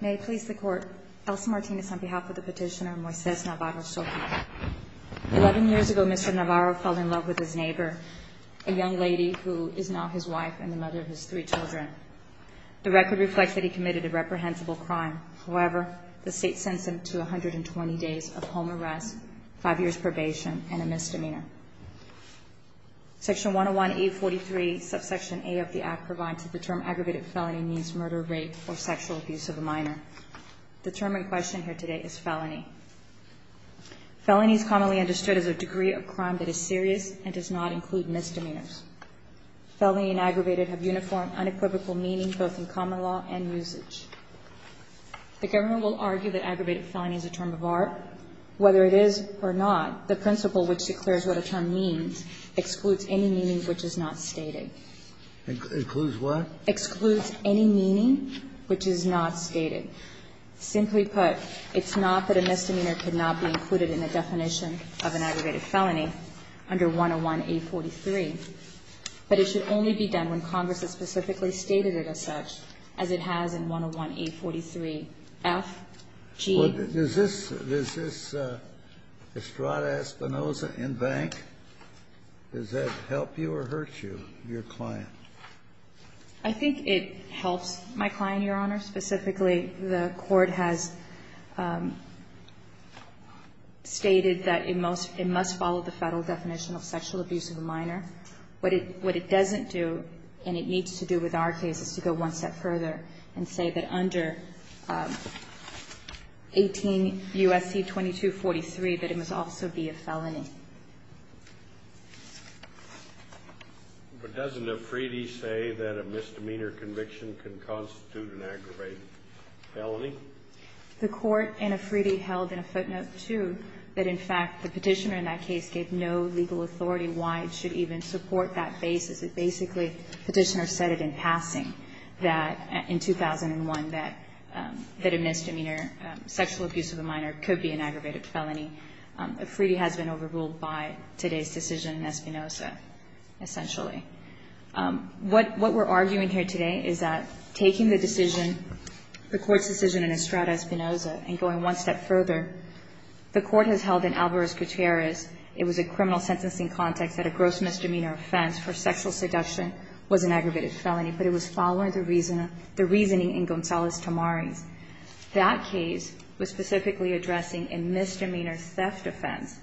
May I please the court, Elsa Martinez on behalf of the petitioner Moises Navarro-Soqui. Eleven years ago, Mr. Navarro fell in love with his neighbor, a young lady who is now his wife and the mother of his three children. The record reflects that he committed a reprehensible crime. However, the state sends him to 120 days of home arrest, five years probation, and a misdemeanor. Section 101A43, subsection A of the Act provides that the term aggravated felony means murder, rape, or sexual abuse of a minor. The term in question here today is felony. Felony is commonly understood as a degree of crime that is serious and does not include misdemeanors. Felony and aggravated have uniform, unequivocal meaning both in common law and usage. The government will argue that aggravated felony is a term of art. Whether it is or not, the principle which declares what a term means excludes any meaning which is not stated. It excludes what? It excludes any meaning which is not stated. Simply put, it's not that a misdemeanor cannot be included in the definition of an aggravated felony under 101A43, but it should only be done when Congress has specifically stated it as such, as it has in 101A43FG. Is this Estrada-Espinosa in bank? Does that help you or hurt you, your client? I think it helps my client, Your Honor. Specifically, the Court has stated that it must follow the Federal definition of sexual abuse of a minor. What it doesn't do, and it needs to do with our case, is to go one step further and say that under 18 U.S.C. 2243 that it must also be a felony. But doesn't Afridi say that a misdemeanor conviction can constitute an aggravated felony? The Court in Afridi held in a footnote, too, that, in fact, the Petitioner in that case gave no legal authority why it should even support that basis. It basically, Petitioner said it in passing that in 2001 that a misdemeanor sexual abuse of a minor could be an aggravated felony. Afridi has been overruled by today's decision in Espinosa, essentially. What we're arguing here today is that taking the decision, the Court's decision in Estrada-Espinosa, and going one step further, the Court has held in Alvarez-Gutierrez it was a criminal sentencing context that a gross misdemeanor offense for sexual seduction was an aggravated felony, but it was following the reasoning in Gonzalez-Tamariz. That case was specifically addressing a misdemeanor theft offense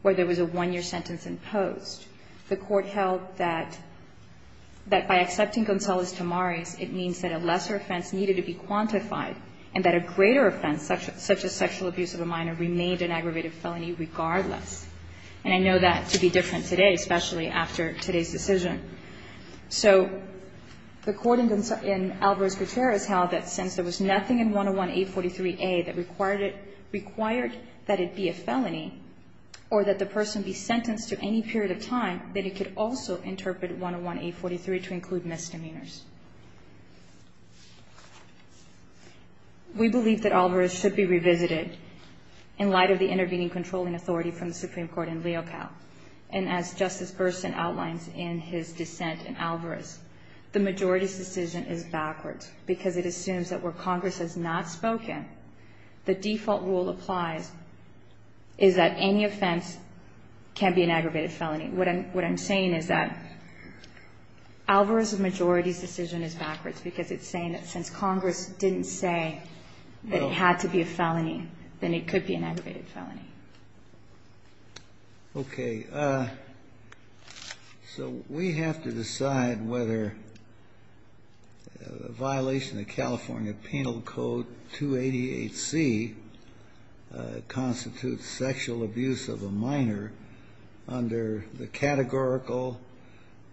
where there was a one-year sentence imposed. The Court held that by accepting Gonzalez-Tamariz, it means that a lesser offense needed to be quantified and that a greater offense, such as sexual abuse of a minor, remained an aggravated felony regardless. And I know that to be different today, especially after today's decision. So the Court in Alvarez-Gutierrez held that since there was nothing in 101-843a that required it, required that it be a felony or that the person be sentenced to any period of time, that it could also interpret 101-843 to include misdemeanors. We believe that Alvarez should be revisited in light of the intervening controlling authority from the Supreme Court in Leocal. And as Justice Gerson outlines in his dissent in Alvarez, the majority's decision is backwards because it assumes that where Congress has not spoken, the default rule applies is that any offense can be an aggravated felony. What I'm saying is that Alvarez's majority's decision is backwards because it's saying that since Congress didn't say that it had to be a felony, then it could be an aggravated felony. Okay. So we have to decide whether a violation of California Penal Code 288C constitutes sexual abuse of a minor under the categorical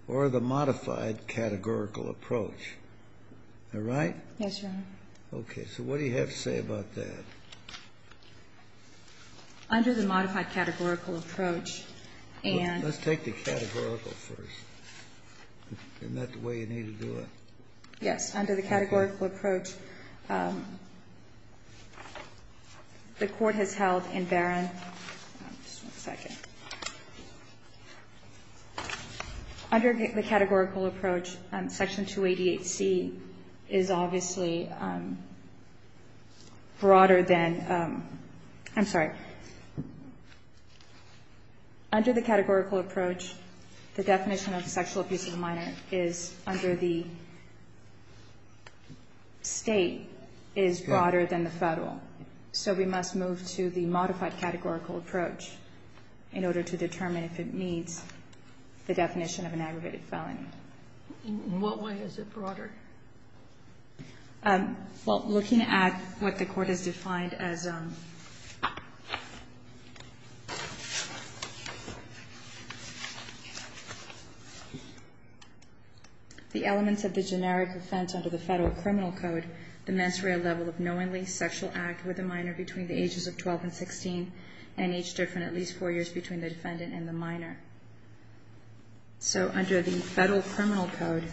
or the modified categorical approach. Am I right? Yes, Your Honor. Okay. So what do you have to say about that? Under the modified categorical approach and Let's take the categorical first. Isn't that the way you need to do it? Yes. Under the categorical approach, the Court has held in Barron Under the categorical approach, Section 288C is obviously broader than I'm sorry. Under the categorical approach, the definition of sexual abuse of a minor is under the state is broader than the federal, so we must move to the modified categorical approach in order to determine if it meets the definition of an aggravated felony. In what way is it broader? Well, looking at what the Court has defined as the elements of the generic offense under the federal criminal code, the mens rea level of knowingly sexual act with a minor between the ages of 12 and 16 and each different at least four years between the defendant and the minor. So under the federal criminal code,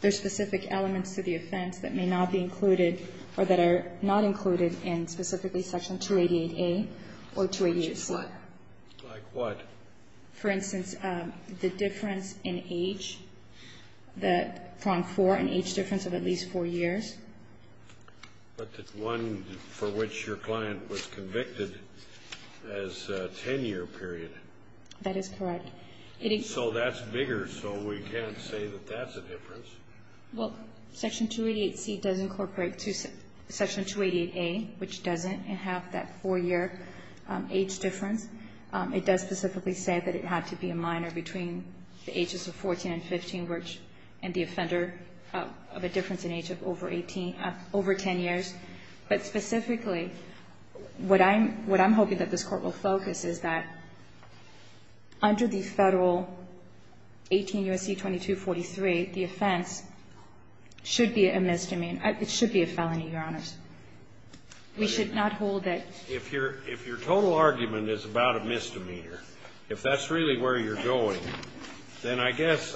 there's specific elements to the offense that may not be included or that are not included in specifically Section 288A or 288C. Like what? For instance, the difference in age, the prong four and age difference of at least four years. But the one for which your client was convicted as a 10-year period. That is correct. So that's bigger, so we can't say that that's a difference. Well, Section 288C does incorporate to Section 288A, which doesn't, and have that four-year age difference. It does specifically say that it had to be a minor between the ages of 14 and 15, and the offender of a difference in age of over 10 years. But specifically, what I'm hoping that this Court will focus is that under the federal 18 U.S.C. 2243, the offense should be a misdemeanor. It should be a felony, Your Honors. We should not hold that. If your total argument is about a misdemeanor, if that's really where you're going, then I guess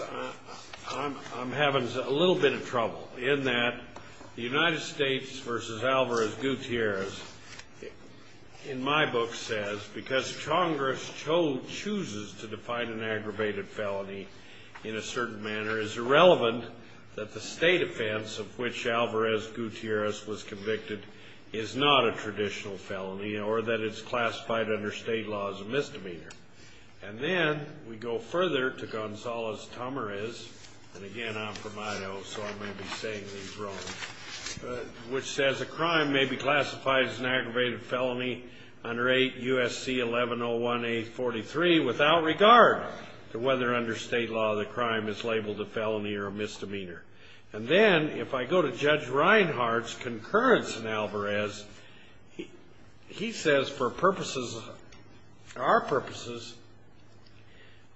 I'm having a little bit of trouble. In that, the United States v. Alvarez-Gutierrez, in my book, says, because Congress chooses to define an aggravated felony in a certain manner, it's irrelevant that the state offense of which Alvarez-Gutierrez was convicted is not a traditional felony or that it's classified under state laws of misdemeanor. And then we go further to Gonzales-Tamarez, and again, I'm from Idaho, so I may be saying these wrong, which says, a crime may be classified as an aggravated felony under 8 U.S.C. 1101-843 without regard to whether under state law the crime is labeled a felony or a misdemeanor. And then if I go to Judge Reinhardt's concurrence in Alvarez, he says for purposes, our purposes,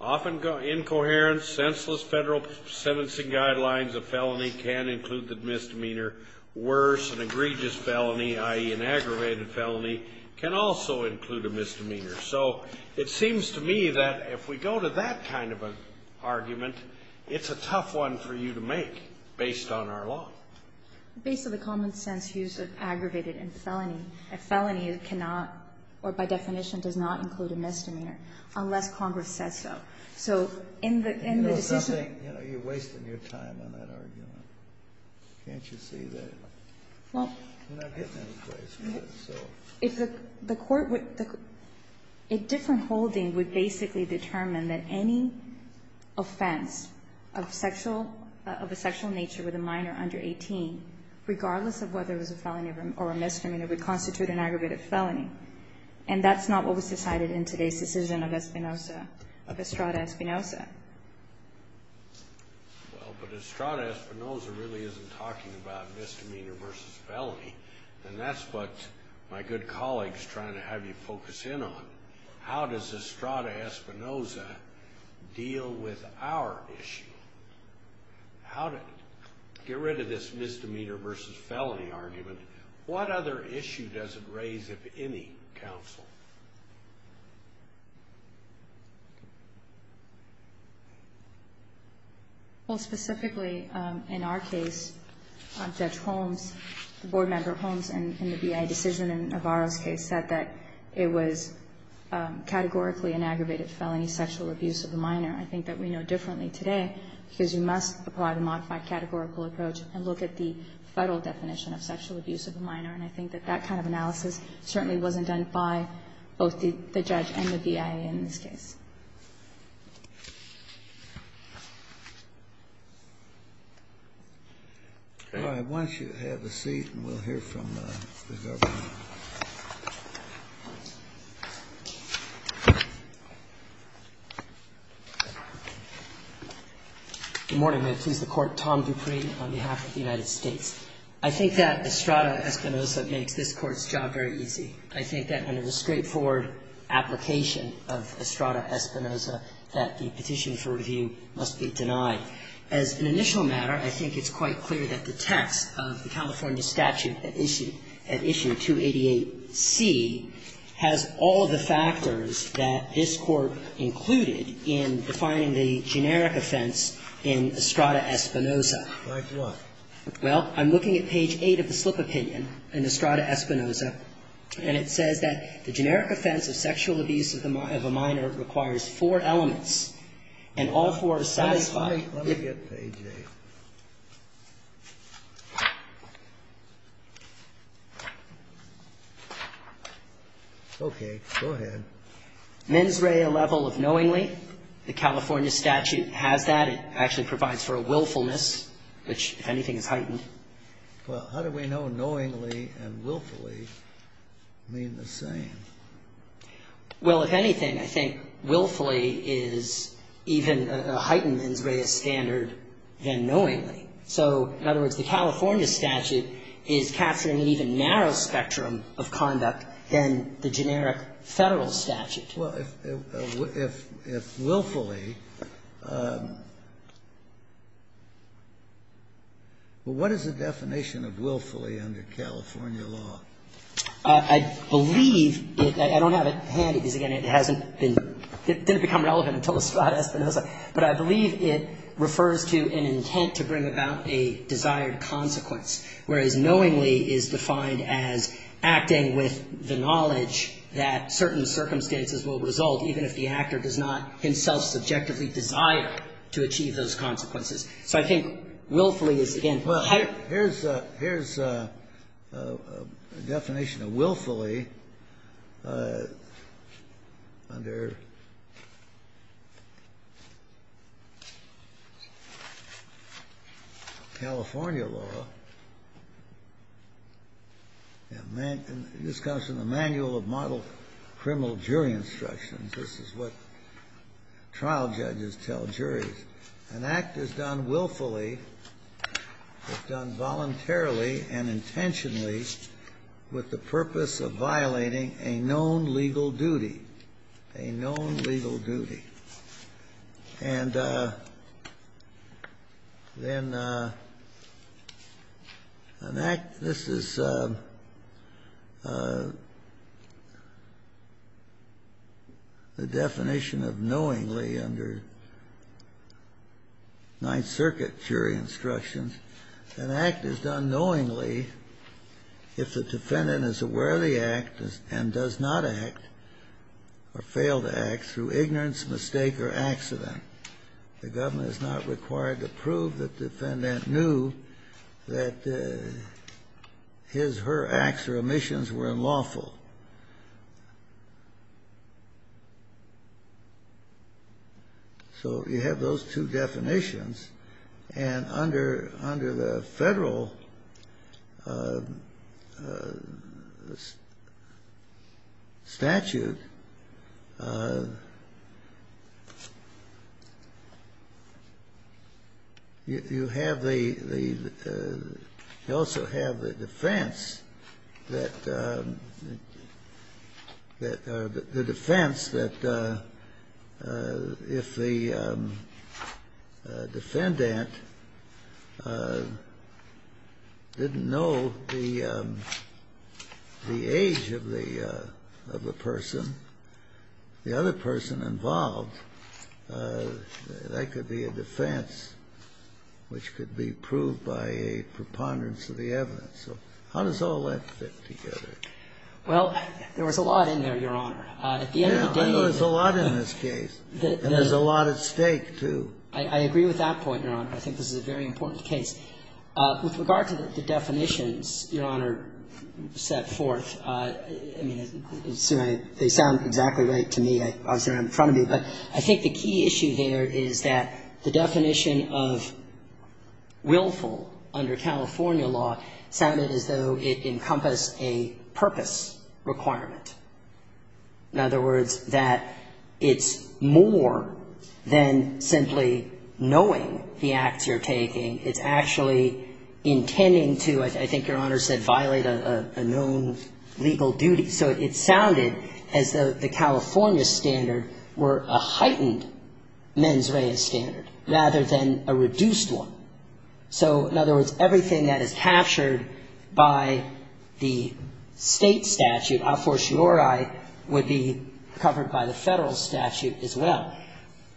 often incoherent, senseless Federal sentencing guidelines, a felony can include the misdemeanor. Worse, an egregious felony, i.e., an aggravated felony, can also include a misdemeanor. So it seems to me that if we go to that kind of an argument, it's a tough one for you to make based on our law. Based on the common sense use of aggravated and felony, a felony cannot, or by definition does not include a misdemeanor unless Congress says so. So in the decision... You're wasting your time on that argument. Can't you see that? Well... You're not getting any place with it, so... If the court would... A different holding would basically determine that any offense of sexual, of a sexual nature with a minor under 18, regardless of whether it was a felony or a misdemeanor, would constitute an aggravated felony. And that's not what was decided in today's decision of Espinoza, of Estrada Espinoza. Well, but Estrada Espinoza really isn't talking about misdemeanor versus felony. And that's what my good colleague is trying to have you focus in on. How does Estrada Espinoza deal with our issue? Get rid of this misdemeanor versus felony argument. What other issue does it raise of any counsel? Well, specifically in our case, Judge Holmes, the board member Holmes, and the BIA decision in Navarro's case said that it was categorically an aggravated felony sexual abuse of a minor. I think that we know differently today because you must apply the modified categorical approach and look at the federal definition of sexual abuse of a minor. And I think that that kind of analysis certainly wasn't done by both the judge and the BIA in this case. All right. Why don't you have a seat and we'll hear from the government. Good morning. May it please the Court. Tom Dupree on behalf of the United States. I think that Estrada Espinoza makes this Court's job very easy. I think that under the straightforward application of Estrada Espinoza that the petition for review must be denied. As an initial matter, I think it's quite clear that the text of the California statute at issue 288C has all of the factors that this Court included in defining the generic offense in Estrada Espinoza. Like what? Well, I'm looking at page 8 of the slip opinion in Estrada Espinoza, and it says that the generic offense of sexual abuse of a minor requires four elements, and all four are satisfied. Let me get page 8. Okay. Go ahead. Mens rea level of knowingly. The California statute has that. And it actually provides for a willfulness, which, if anything, is heightened. Well, how do we know knowingly and willfully mean the same? Well, if anything, I think willfully is even a heightened mens rea standard than knowingly. So, in other words, the California statute is capturing an even narrower spectrum of conduct than the generic Federal statute. Well, if willfully, what is the definition of willfully under California law? I believe it — I don't have it handy because, again, it hasn't been — it didn't become relevant until Estrada Espinoza, but I believe it refers to an intent to bring about a desired consequence, whereas knowingly is defined as acting with the knowledge that certain circumstances will result even if the actor does not himself subjectively desire to achieve those consequences. So I think willfully is, again — Well, here's a definition of willfully under California law. And this comes from the Manual of Model Criminal Jury Instructions. This is what trial judges tell juries. An act is done willfully, is done voluntarily and intentionally with the purpose of violating a known legal duty, a known legal duty. And then an act — this is the definition of knowingly under Ninth Circuit jury instructions. An act is done knowingly if the defendant is aware of the act and does not act or failed the act through ignorance, mistake, or accident. The government is not required to prove that the defendant knew that his, her acts or omissions were unlawful. So you have those two definitions. And under the federal statute, you have the — you also have the defense that if the defendant didn't know the age of the person, the other person involved, that could be a defense which could be proved by a preponderance of the evidence. And then you have the defense that if the defendant didn't know the age of the person, the other person involved, that could be a defense which could be proved by a preponderance of the evidence. So it's a very important point. And I think that's what the definition of willfully under California law is. And I think that's what the definition of willfully under California law is. And I think that's what the definition of willfully under California law is. The definition of willfully under California law but it's a requirement as though it encompassed a purpose requirement. In other words, that it's more than simply knowing the acts you're taking. It's actually intending to, I think Your Honor said, violate a known legal duty. So it sounded as though the California standard were a heightened mens rea standard rather than a reduced one. So in other words, everything that is captured by the state statute, a fortiori, would be covered by the federal statute as well.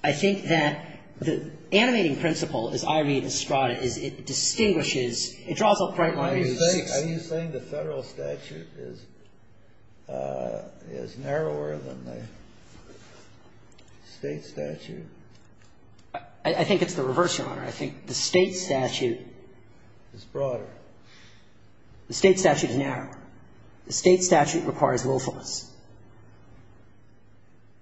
I think that the animating principle, as I read Estrada, is it distinguishes it draws a bright line. Are you saying the federal statute is narrower than the state statute? I think it's the reverse, Your Honor. I think the state statute is broader. The state statute is narrower. The state statute requires willfulness,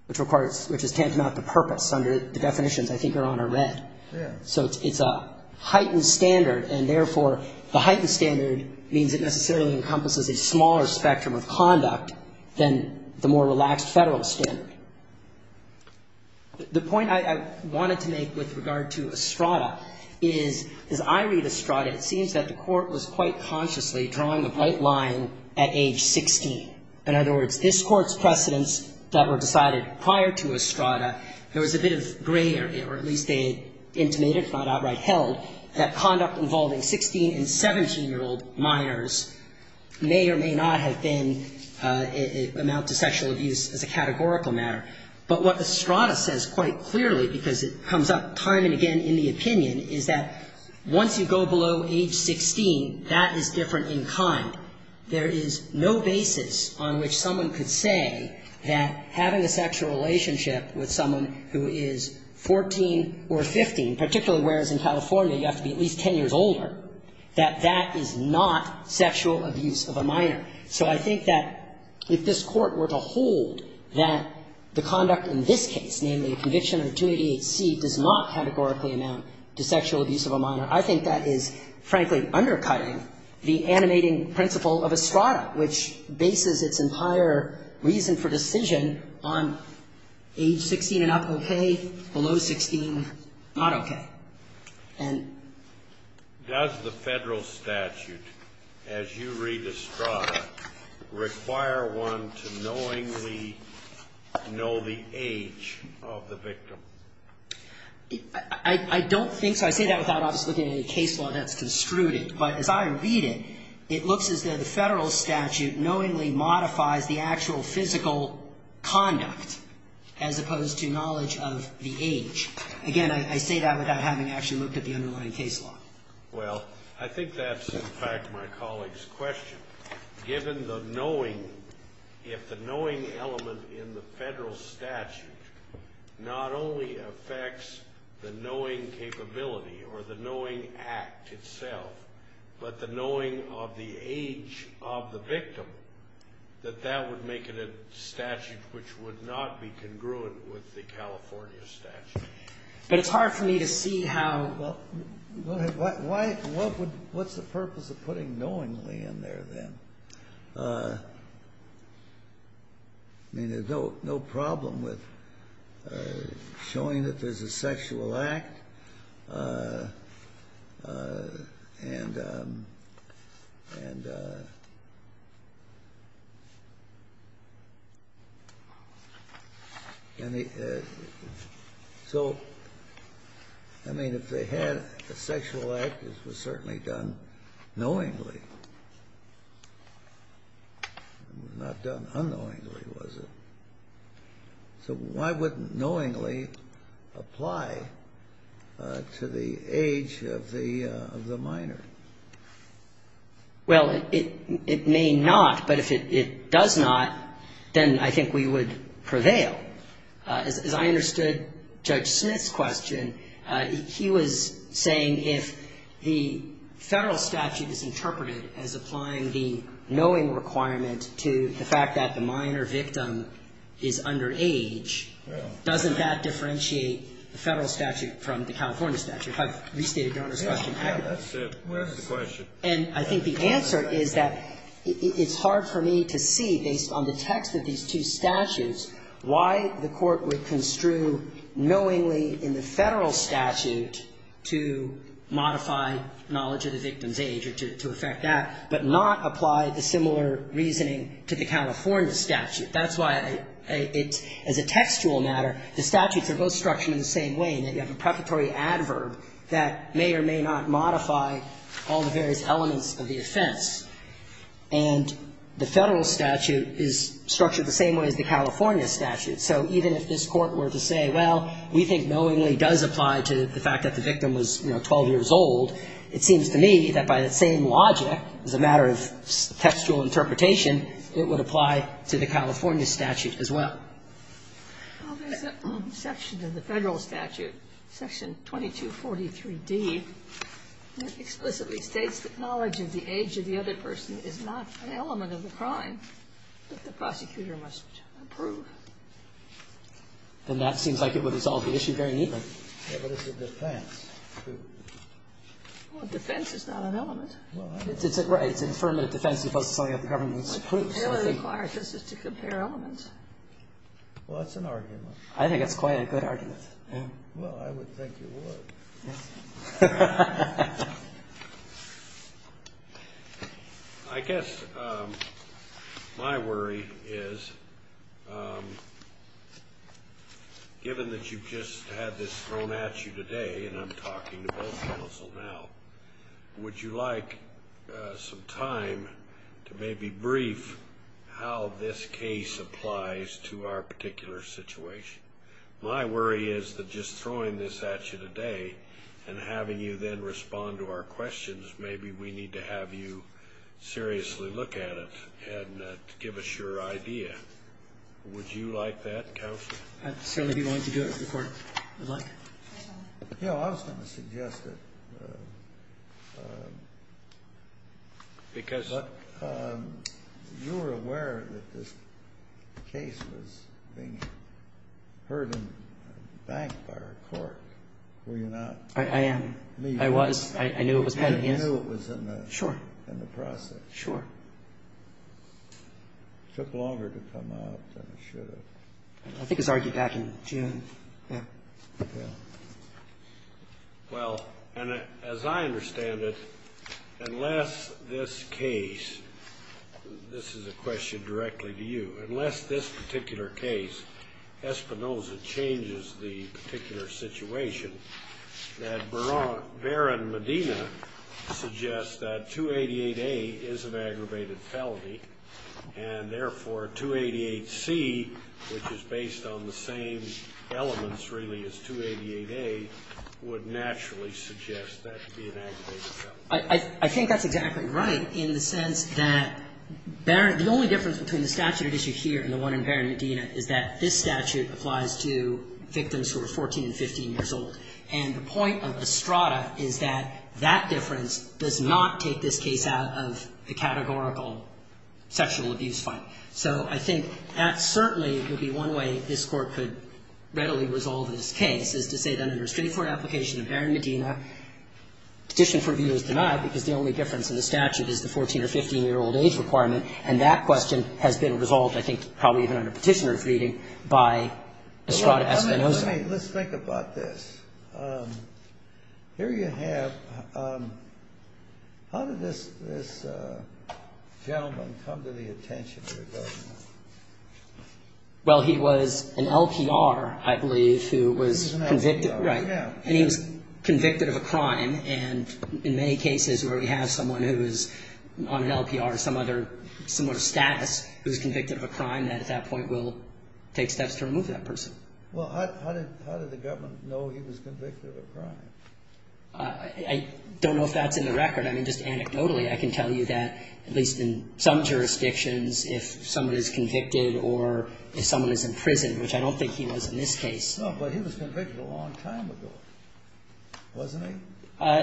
which requires, which is tantamount to purpose under the definitions I think Your Honor read. Yes. So it's a heightened standard, and therefore the heightened standard means it necessarily encompasses a smaller spectrum of conduct than the more relaxed federal standard. The point I wanted to make with regard to Estrada is, as I read Estrada, it seems that the court was quite consciously drawing a bright line at age 16. In other words, this Court's precedents that were decided prior to Estrada, there was a bit of gray, or at least they intimated, if not outright held, that conduct involving 16- and 17-year-old minors may or may not have been, amount to sexual abuse as a categorical matter. But what Estrada says quite clearly, because it comes up time and again in the opinion, is that once you go below age 16, that is different in kind. There is no basis on which someone could say that having a sexual relationship with someone who is 14 or 15, particularly whereas in California you have to be at least 10 years older, that that is not sexual abuse of a minor. So I think that if this Court were to hold that the conduct in this case, namely a conviction under 288C, does not categorically amount to sexual abuse of a minor, I think that is, frankly, undercutting the animating principle of Estrada, which bases its entire reason for decision on age 16 and up okay, below 16 not okay. And does the Federal statute, as you read Estrada, require one to knowingly know the age of the victim? I don't think so. I say that without obviously looking at any case law that's construed it. But as I read it, it looks as though the Federal statute knowingly modifies the actual physical conduct as opposed to knowledge of the age. Again, I say that without having actually looked at the underlying case law. Well, I think that's, in fact, my colleague's question. Given the knowing, if the knowing element in the Federal statute not only affects the knowing capability or the knowing act itself, but the knowing of the age of the victim, that that would make it a statute which would not be congruent with the California statute. But it's hard for me to see how... What's the purpose of putting knowingly in there, then? I mean, there's no problem with showing that there's a sexual act. And... So, I mean, if they had a sexual act, it was certainly done knowingly. It was not done unknowingly, was it? So why wouldn't knowingly apply to the age of the minor? Well, it may not, but if it does not, then I think we would prevail. As I understood Judge Smith's question, he was saying if the Federal statute is interpreted as applying the knowing requirement to the fact that the minor victim is under age, doesn't that differentiate the Federal statute from the California statute? If I've restated Your Honor's question. And I think the answer is that it's hard for me to see, based on the text of these two statutes, why the Court would construe knowingly in the Federal statute to modify knowledge of the victim's age or to affect that, but not apply the similar reasoning to the California statute. That's why, as a textual matter, the statutes are both structured in the same way, in that you have a preparatory adverb that may or may not modify all the various elements of the offense. And the Federal statute is structured the same way as the California statute, in that the victim was 12 years old. It seems to me that by the same logic, as a matter of textual interpretation, it would apply to the California statute as well. Well, there's a section in the Federal statute, section 2243D, that explicitly states that knowledge of the age of the other person is not an element of the crime that the prosecutor must approve. Then that seems like it would resolve the issue very neatly. Yeah, but it's a defense, too. Well, defense is not an element. Well, I don't know. Right. It's an affirmative defense as opposed to something that the government approves. They only require it just to compare elements. Well, that's an argument. I think that's quite a good argument. Well, I would think you would. Yes. I guess my worry is, given that you've just had this thrown at you today, and I'm talking to both counsel now, would you like some time to maybe brief how this case applies to our particular situation? My worry is that just throwing this at you today and having you then respond to our questions, maybe we need to have you seriously look at it and give us your idea. Would you like that, counsel? I'd certainly be willing to do it if the Court would like. I was going to suggest that you were aware that this case was being heard and banked by our court. Were you not? I am. I was. I knew it was pending. You knew it was in the process. Sure. It took longer to come out than it should have. I think it was argued back in June. Well, and as I understand it, unless this case, this is a question directly to you, unless this particular case, Espinoza, changes the particular situation, that Baron Medina suggests that 288A is an aggravated felony, and therefore 288C, which is based on the same elements really as 288A, would naturally suggest that to be an aggravated felony. I think that's exactly right in the sense that the only difference between the statute at issue here and the one in Baron Medina is that this statute applies to victims who are 14 and 15 years old. And the point of Estrada is that that difference does not take this case out of the categorical sexual abuse fight. So I think that certainly could be one way this Court could readily resolve this case, is to say that under a straightforward application of Baron Medina, petition for review is denied because the only difference in the statute is the 14- or 15-year-old age requirement. And that question has been resolved, I think, probably even under Petitioner's reading, by Estrada Espinoza. Let's think about this. Here you have, how did this gentleman come to the attention of the government? Well, he was an LPR, I believe, who was convicted. He was an LPR, yeah. And he was convicted of a crime. And in many cases where we have someone who is on an LPR, some other similar status who is convicted of a crime, that at that point will take steps to remove that person. Well, how did the government know he was convicted of a crime? I don't know if that's in the record. I mean, just anecdotally, I can tell you that, at least in some jurisdictions, if someone is convicted or if someone is in prison, which I don't think he was in this case. No, but he was convicted a long time ago, wasn't he?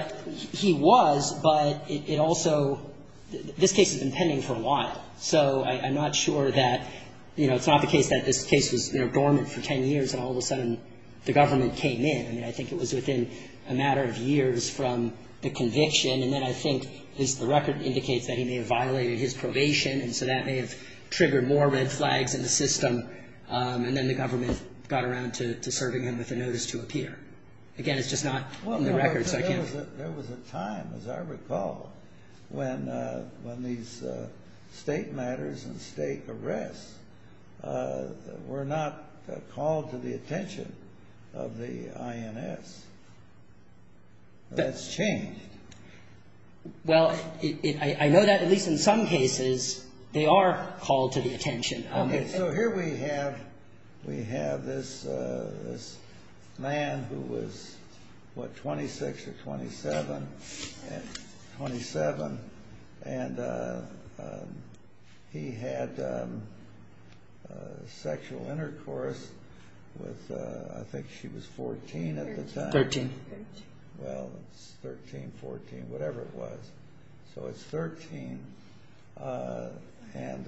He was, but it also — this case has been pending for a while. So I'm not sure that, you know, it's not the case that this case was dormant for 10 years and all of a sudden the government came in. I mean, I think it was within a matter of years from the conviction. And then I think the record indicates that he may have violated his probation, and so that may have triggered more red flags in the system, and then the government got around to serving him with a notice to appear. Again, it's just not in the record, so I can't — There was a time, as I recall, when these state matters and state arrests were not called to the attention of the INS. That's changed. Well, I know that, at least in some cases, they are called to the attention. Okay, so here we have this man who was, what, 26 or 27? 27. And he had sexual intercourse with, I think she was 14 at the time. 13. Well, it's 13, 14, whatever it was. So it's 13. And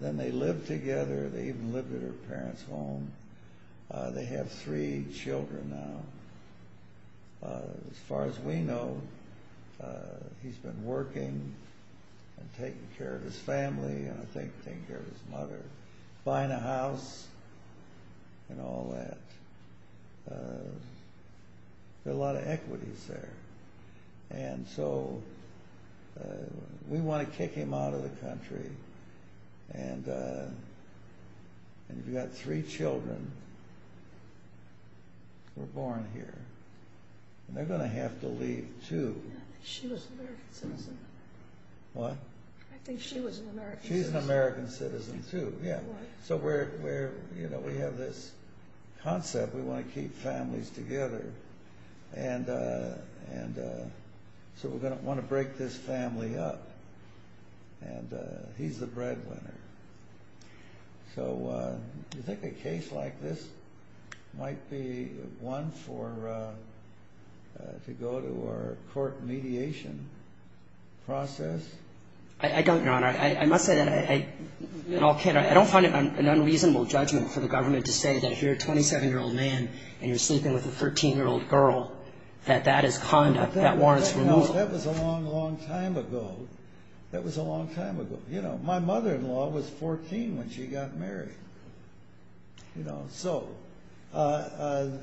then they lived together. They even lived at her parents' home. They have three children now. As far as we know, he's been working and taking care of his family and I think taking care of his mother, buying a house and all that. There are a lot of equities there. And so we want to kick him out of the country. And you've got three children who were born here. And they're going to have to leave, too. She was an American citizen. What? I think she was an American citizen. She's an American citizen, too, yeah. So we have this concept we want to keep families together. And so we're going to want to break this family up. And he's the breadwinner. So do you think a case like this might be one to go to a court mediation process? I don't, Your Honor. I must say that I don't find it an unreasonable judgment for the government to say that if you're a 27-year-old man and you're sleeping with a 13-year-old girl, that that is conduct that warrants removal. That was a long, long time ago. That was a long time ago. You know, my mother-in-law was 14 when she got married. So as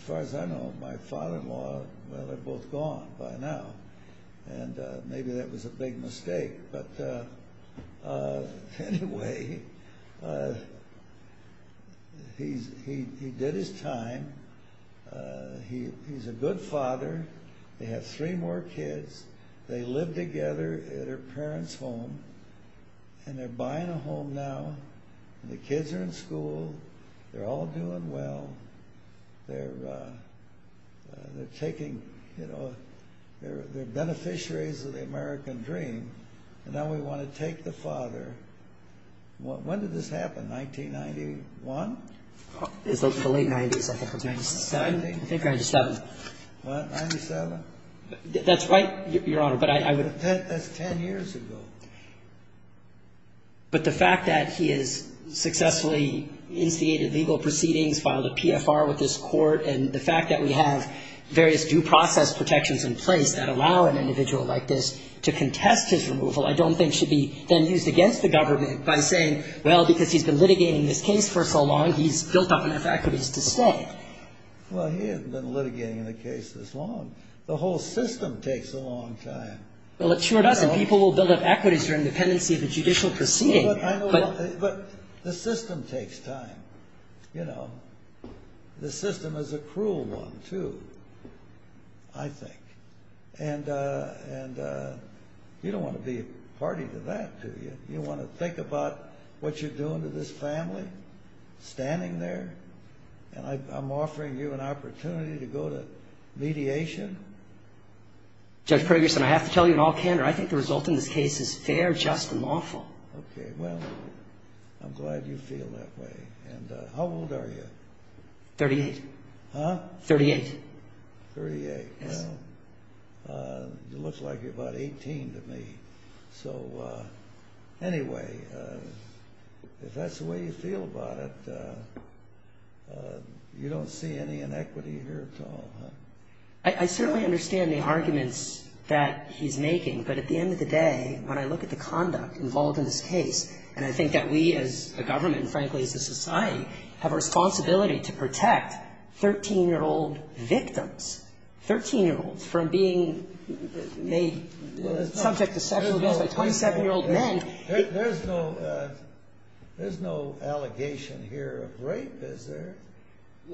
far as I know, my father-in-law, well, they're both gone by now. And maybe that was a big mistake. But anyway, he did his time. He's a good father. They have three more kids. They live together at her parents' home. And they're buying a home now. The kids are in school. They're all doing well. They're taking, you know, they're beneficiaries of the American dream. And now we want to take the father. When did this happen? 1991? It was the late 90s. I think it was 1997. What, 1997? That's right, Your Honor. That's 10 years ago. But the fact that he has successfully instigated legal proceedings, filed a PFR with this court, and the fact that we have various due process protections in place that allow an individual like this to contest his removal, I don't think should be then used against the government by saying, well, because he's been litigating this case for so long, he's built up enough equities to stay. Well, he hasn't been litigating the case this long. The whole system takes a long time. Well, it sure doesn't. People will build up equities during the pendency of a judicial proceeding. But the system takes time. You know, the system is a cruel one, too, I think. And you don't want to be a party to that, do you? You want to think about what you're doing to this family, standing there, and I'm offering you an opportunity to go to mediation? Judge Ferguson, I have to tell you in all candor, I think the result in this case is fair, just, and lawful. Okay. Well, I'm glad you feel that way. And how old are you? Thirty-eight. Huh? Thirty-eight. Thirty-eight. Yes. Well, it looks like you're about 18 to me. So, anyway, if that's the way you feel about it, you don't see any inequity here at all, huh? I certainly understand the arguments that he's making. But at the end of the day, when I look at the conduct involved in this case, and I think that we as a government, and frankly as a society, have a responsibility to protect 13-year-old victims, 13-year-olds from being made subject to sexual abuse by 27-year-old men. There's no allegation here of rape, is there?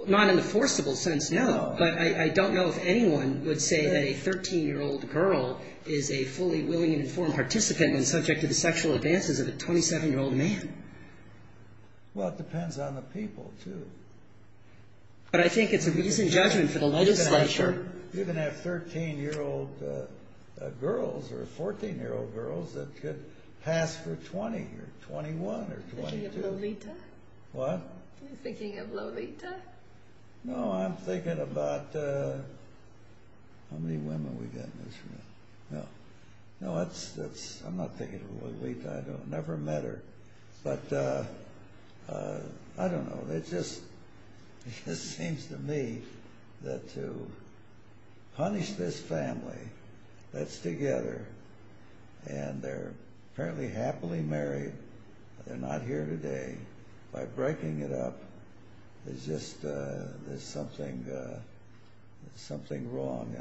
Not in the forcible sense, no. But I don't know if anyone would say that a 13-year-old girl is a fully willing and informed participant and subject to the sexual advances of a 27-year-old man. Well, it depends on the people, too. But I think it's a reasonable judgment for the legislature. You can have 13-year-old girls or 14-year-old girls that could pass for 20 or 21 or 22. Are you thinking of Lolita? What? Are you thinking of Lolita? No, I'm thinking about how many women we got in this room. No. No, I'm not thinking of Lolita. I never met her. But I don't know. It just seems to me that to punish this family that's together, and they're apparently happily married, but they're not here today, by breaking it up, there's just something wrong.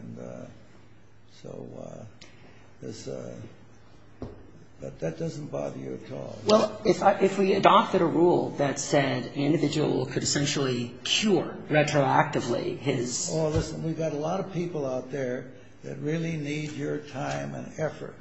But that doesn't bother you at all? Well, if we adopted a rule that said an individual could essentially cure retroactively his... Oh, listen, we've got a lot of people out there that really need your time and effort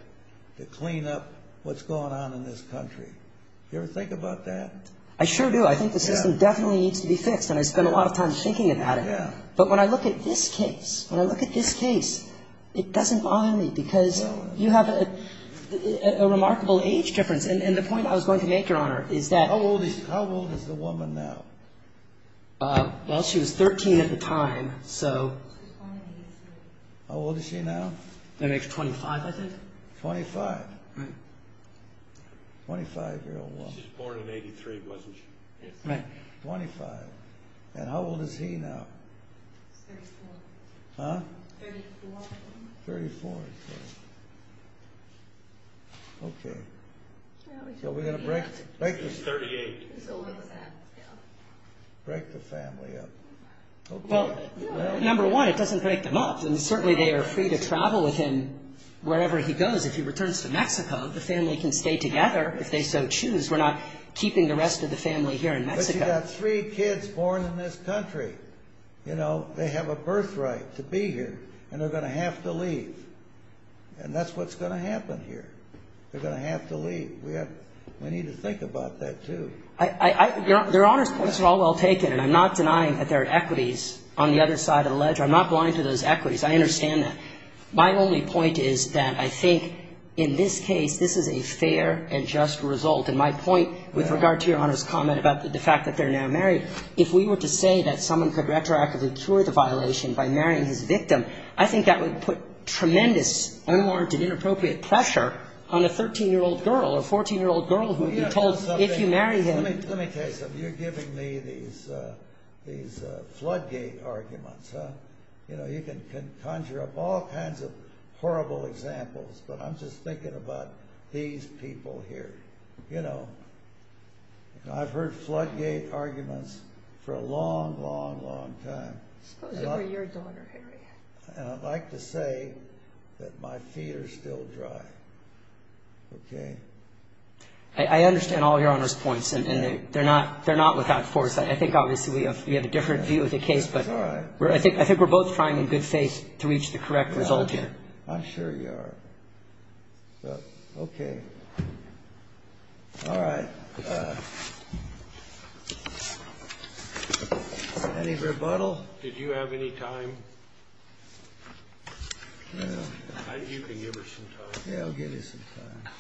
to clean up what's going on in this country. Do you ever think about that? I sure do. I think the system definitely needs to be fixed, and I spend a lot of time thinking about it. Yeah. But when I look at this case, when I look at this case, it doesn't bother me, because you have a remarkable age difference. And the point I was going to make, Your Honor, is that... How old is the woman now? Well, she was 13 at the time, so... How old is she now? That makes 25, I think. 25. 25-year-old woman. She was born in 83, wasn't she? Right. 25. And how old is he now? He's 34. Huh? 34. 34, okay. Okay. So we're going to break... He's 38. Break the family up. Well, number one, it doesn't break them up. And certainly they are free to travel with him wherever he goes. If he returns to Mexico, the family can stay together if they so choose. We're not keeping the rest of the family here in Mexico. But you've got three kids born in this country. You know, they have a birthright to be here, and they're going to have to leave. And that's what's going to happen here. They're going to have to leave. We need to think about that, too. Your Honor's points are all well taken, and I'm not denying that there are equities on the other side of the ledger. I'm not going to those equities. I understand that. My only point is that I think in this case this is a fair and just result. And my point with regard to Your Honor's comment about the fact that they're now married, if we were to say that someone could retroactively cure the violation by marrying his victim, I think that would put tremendous unwarranted, inappropriate pressure on a 13-year-old girl or 14-year-old girl who would be told if you marry him... You know, you can conjure up all kinds of horrible examples, but I'm just thinking about these people here. You know, I've heard floodgate arguments for a long, long, long time. Supposed to be your daughter, Harry. And I'd like to say that my feet are still dry. Okay? I understand all Your Honor's points, and they're not without foresight. I think obviously we have a different view of the case. It's all right. I think we're both trying in good faith to reach the correct result here. I'm sure you are. Okay. All right. Any rebuttal? Did you have any time? You can give her some time. Yeah, I'll give you some time.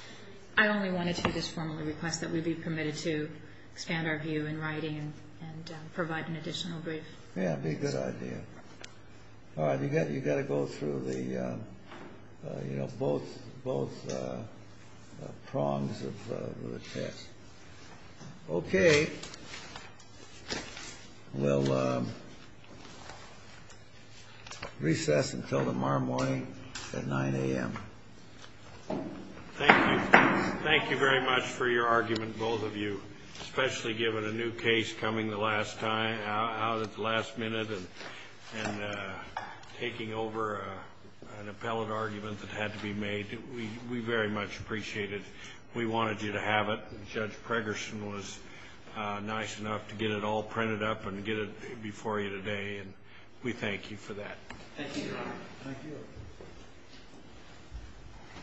I only wanted to just formally request that we be permitted to expand our view in writing and provide an additional brief. Yeah, that'd be a good idea. All right. You've got to go through the, you know, both prongs of the text. Okay. We'll recess until tomorrow morning at 9 a.m. Thank you. Thank you very much for your argument, both of you, especially given a new case coming out at the last minute and taking over an appellate argument that had to be made. We very much appreciate it. We wanted you to have it. Judge Pregerson was nice enough to get it all printed up and get it before you today, and we thank you for that. Thank you, Your Honor. Thank you.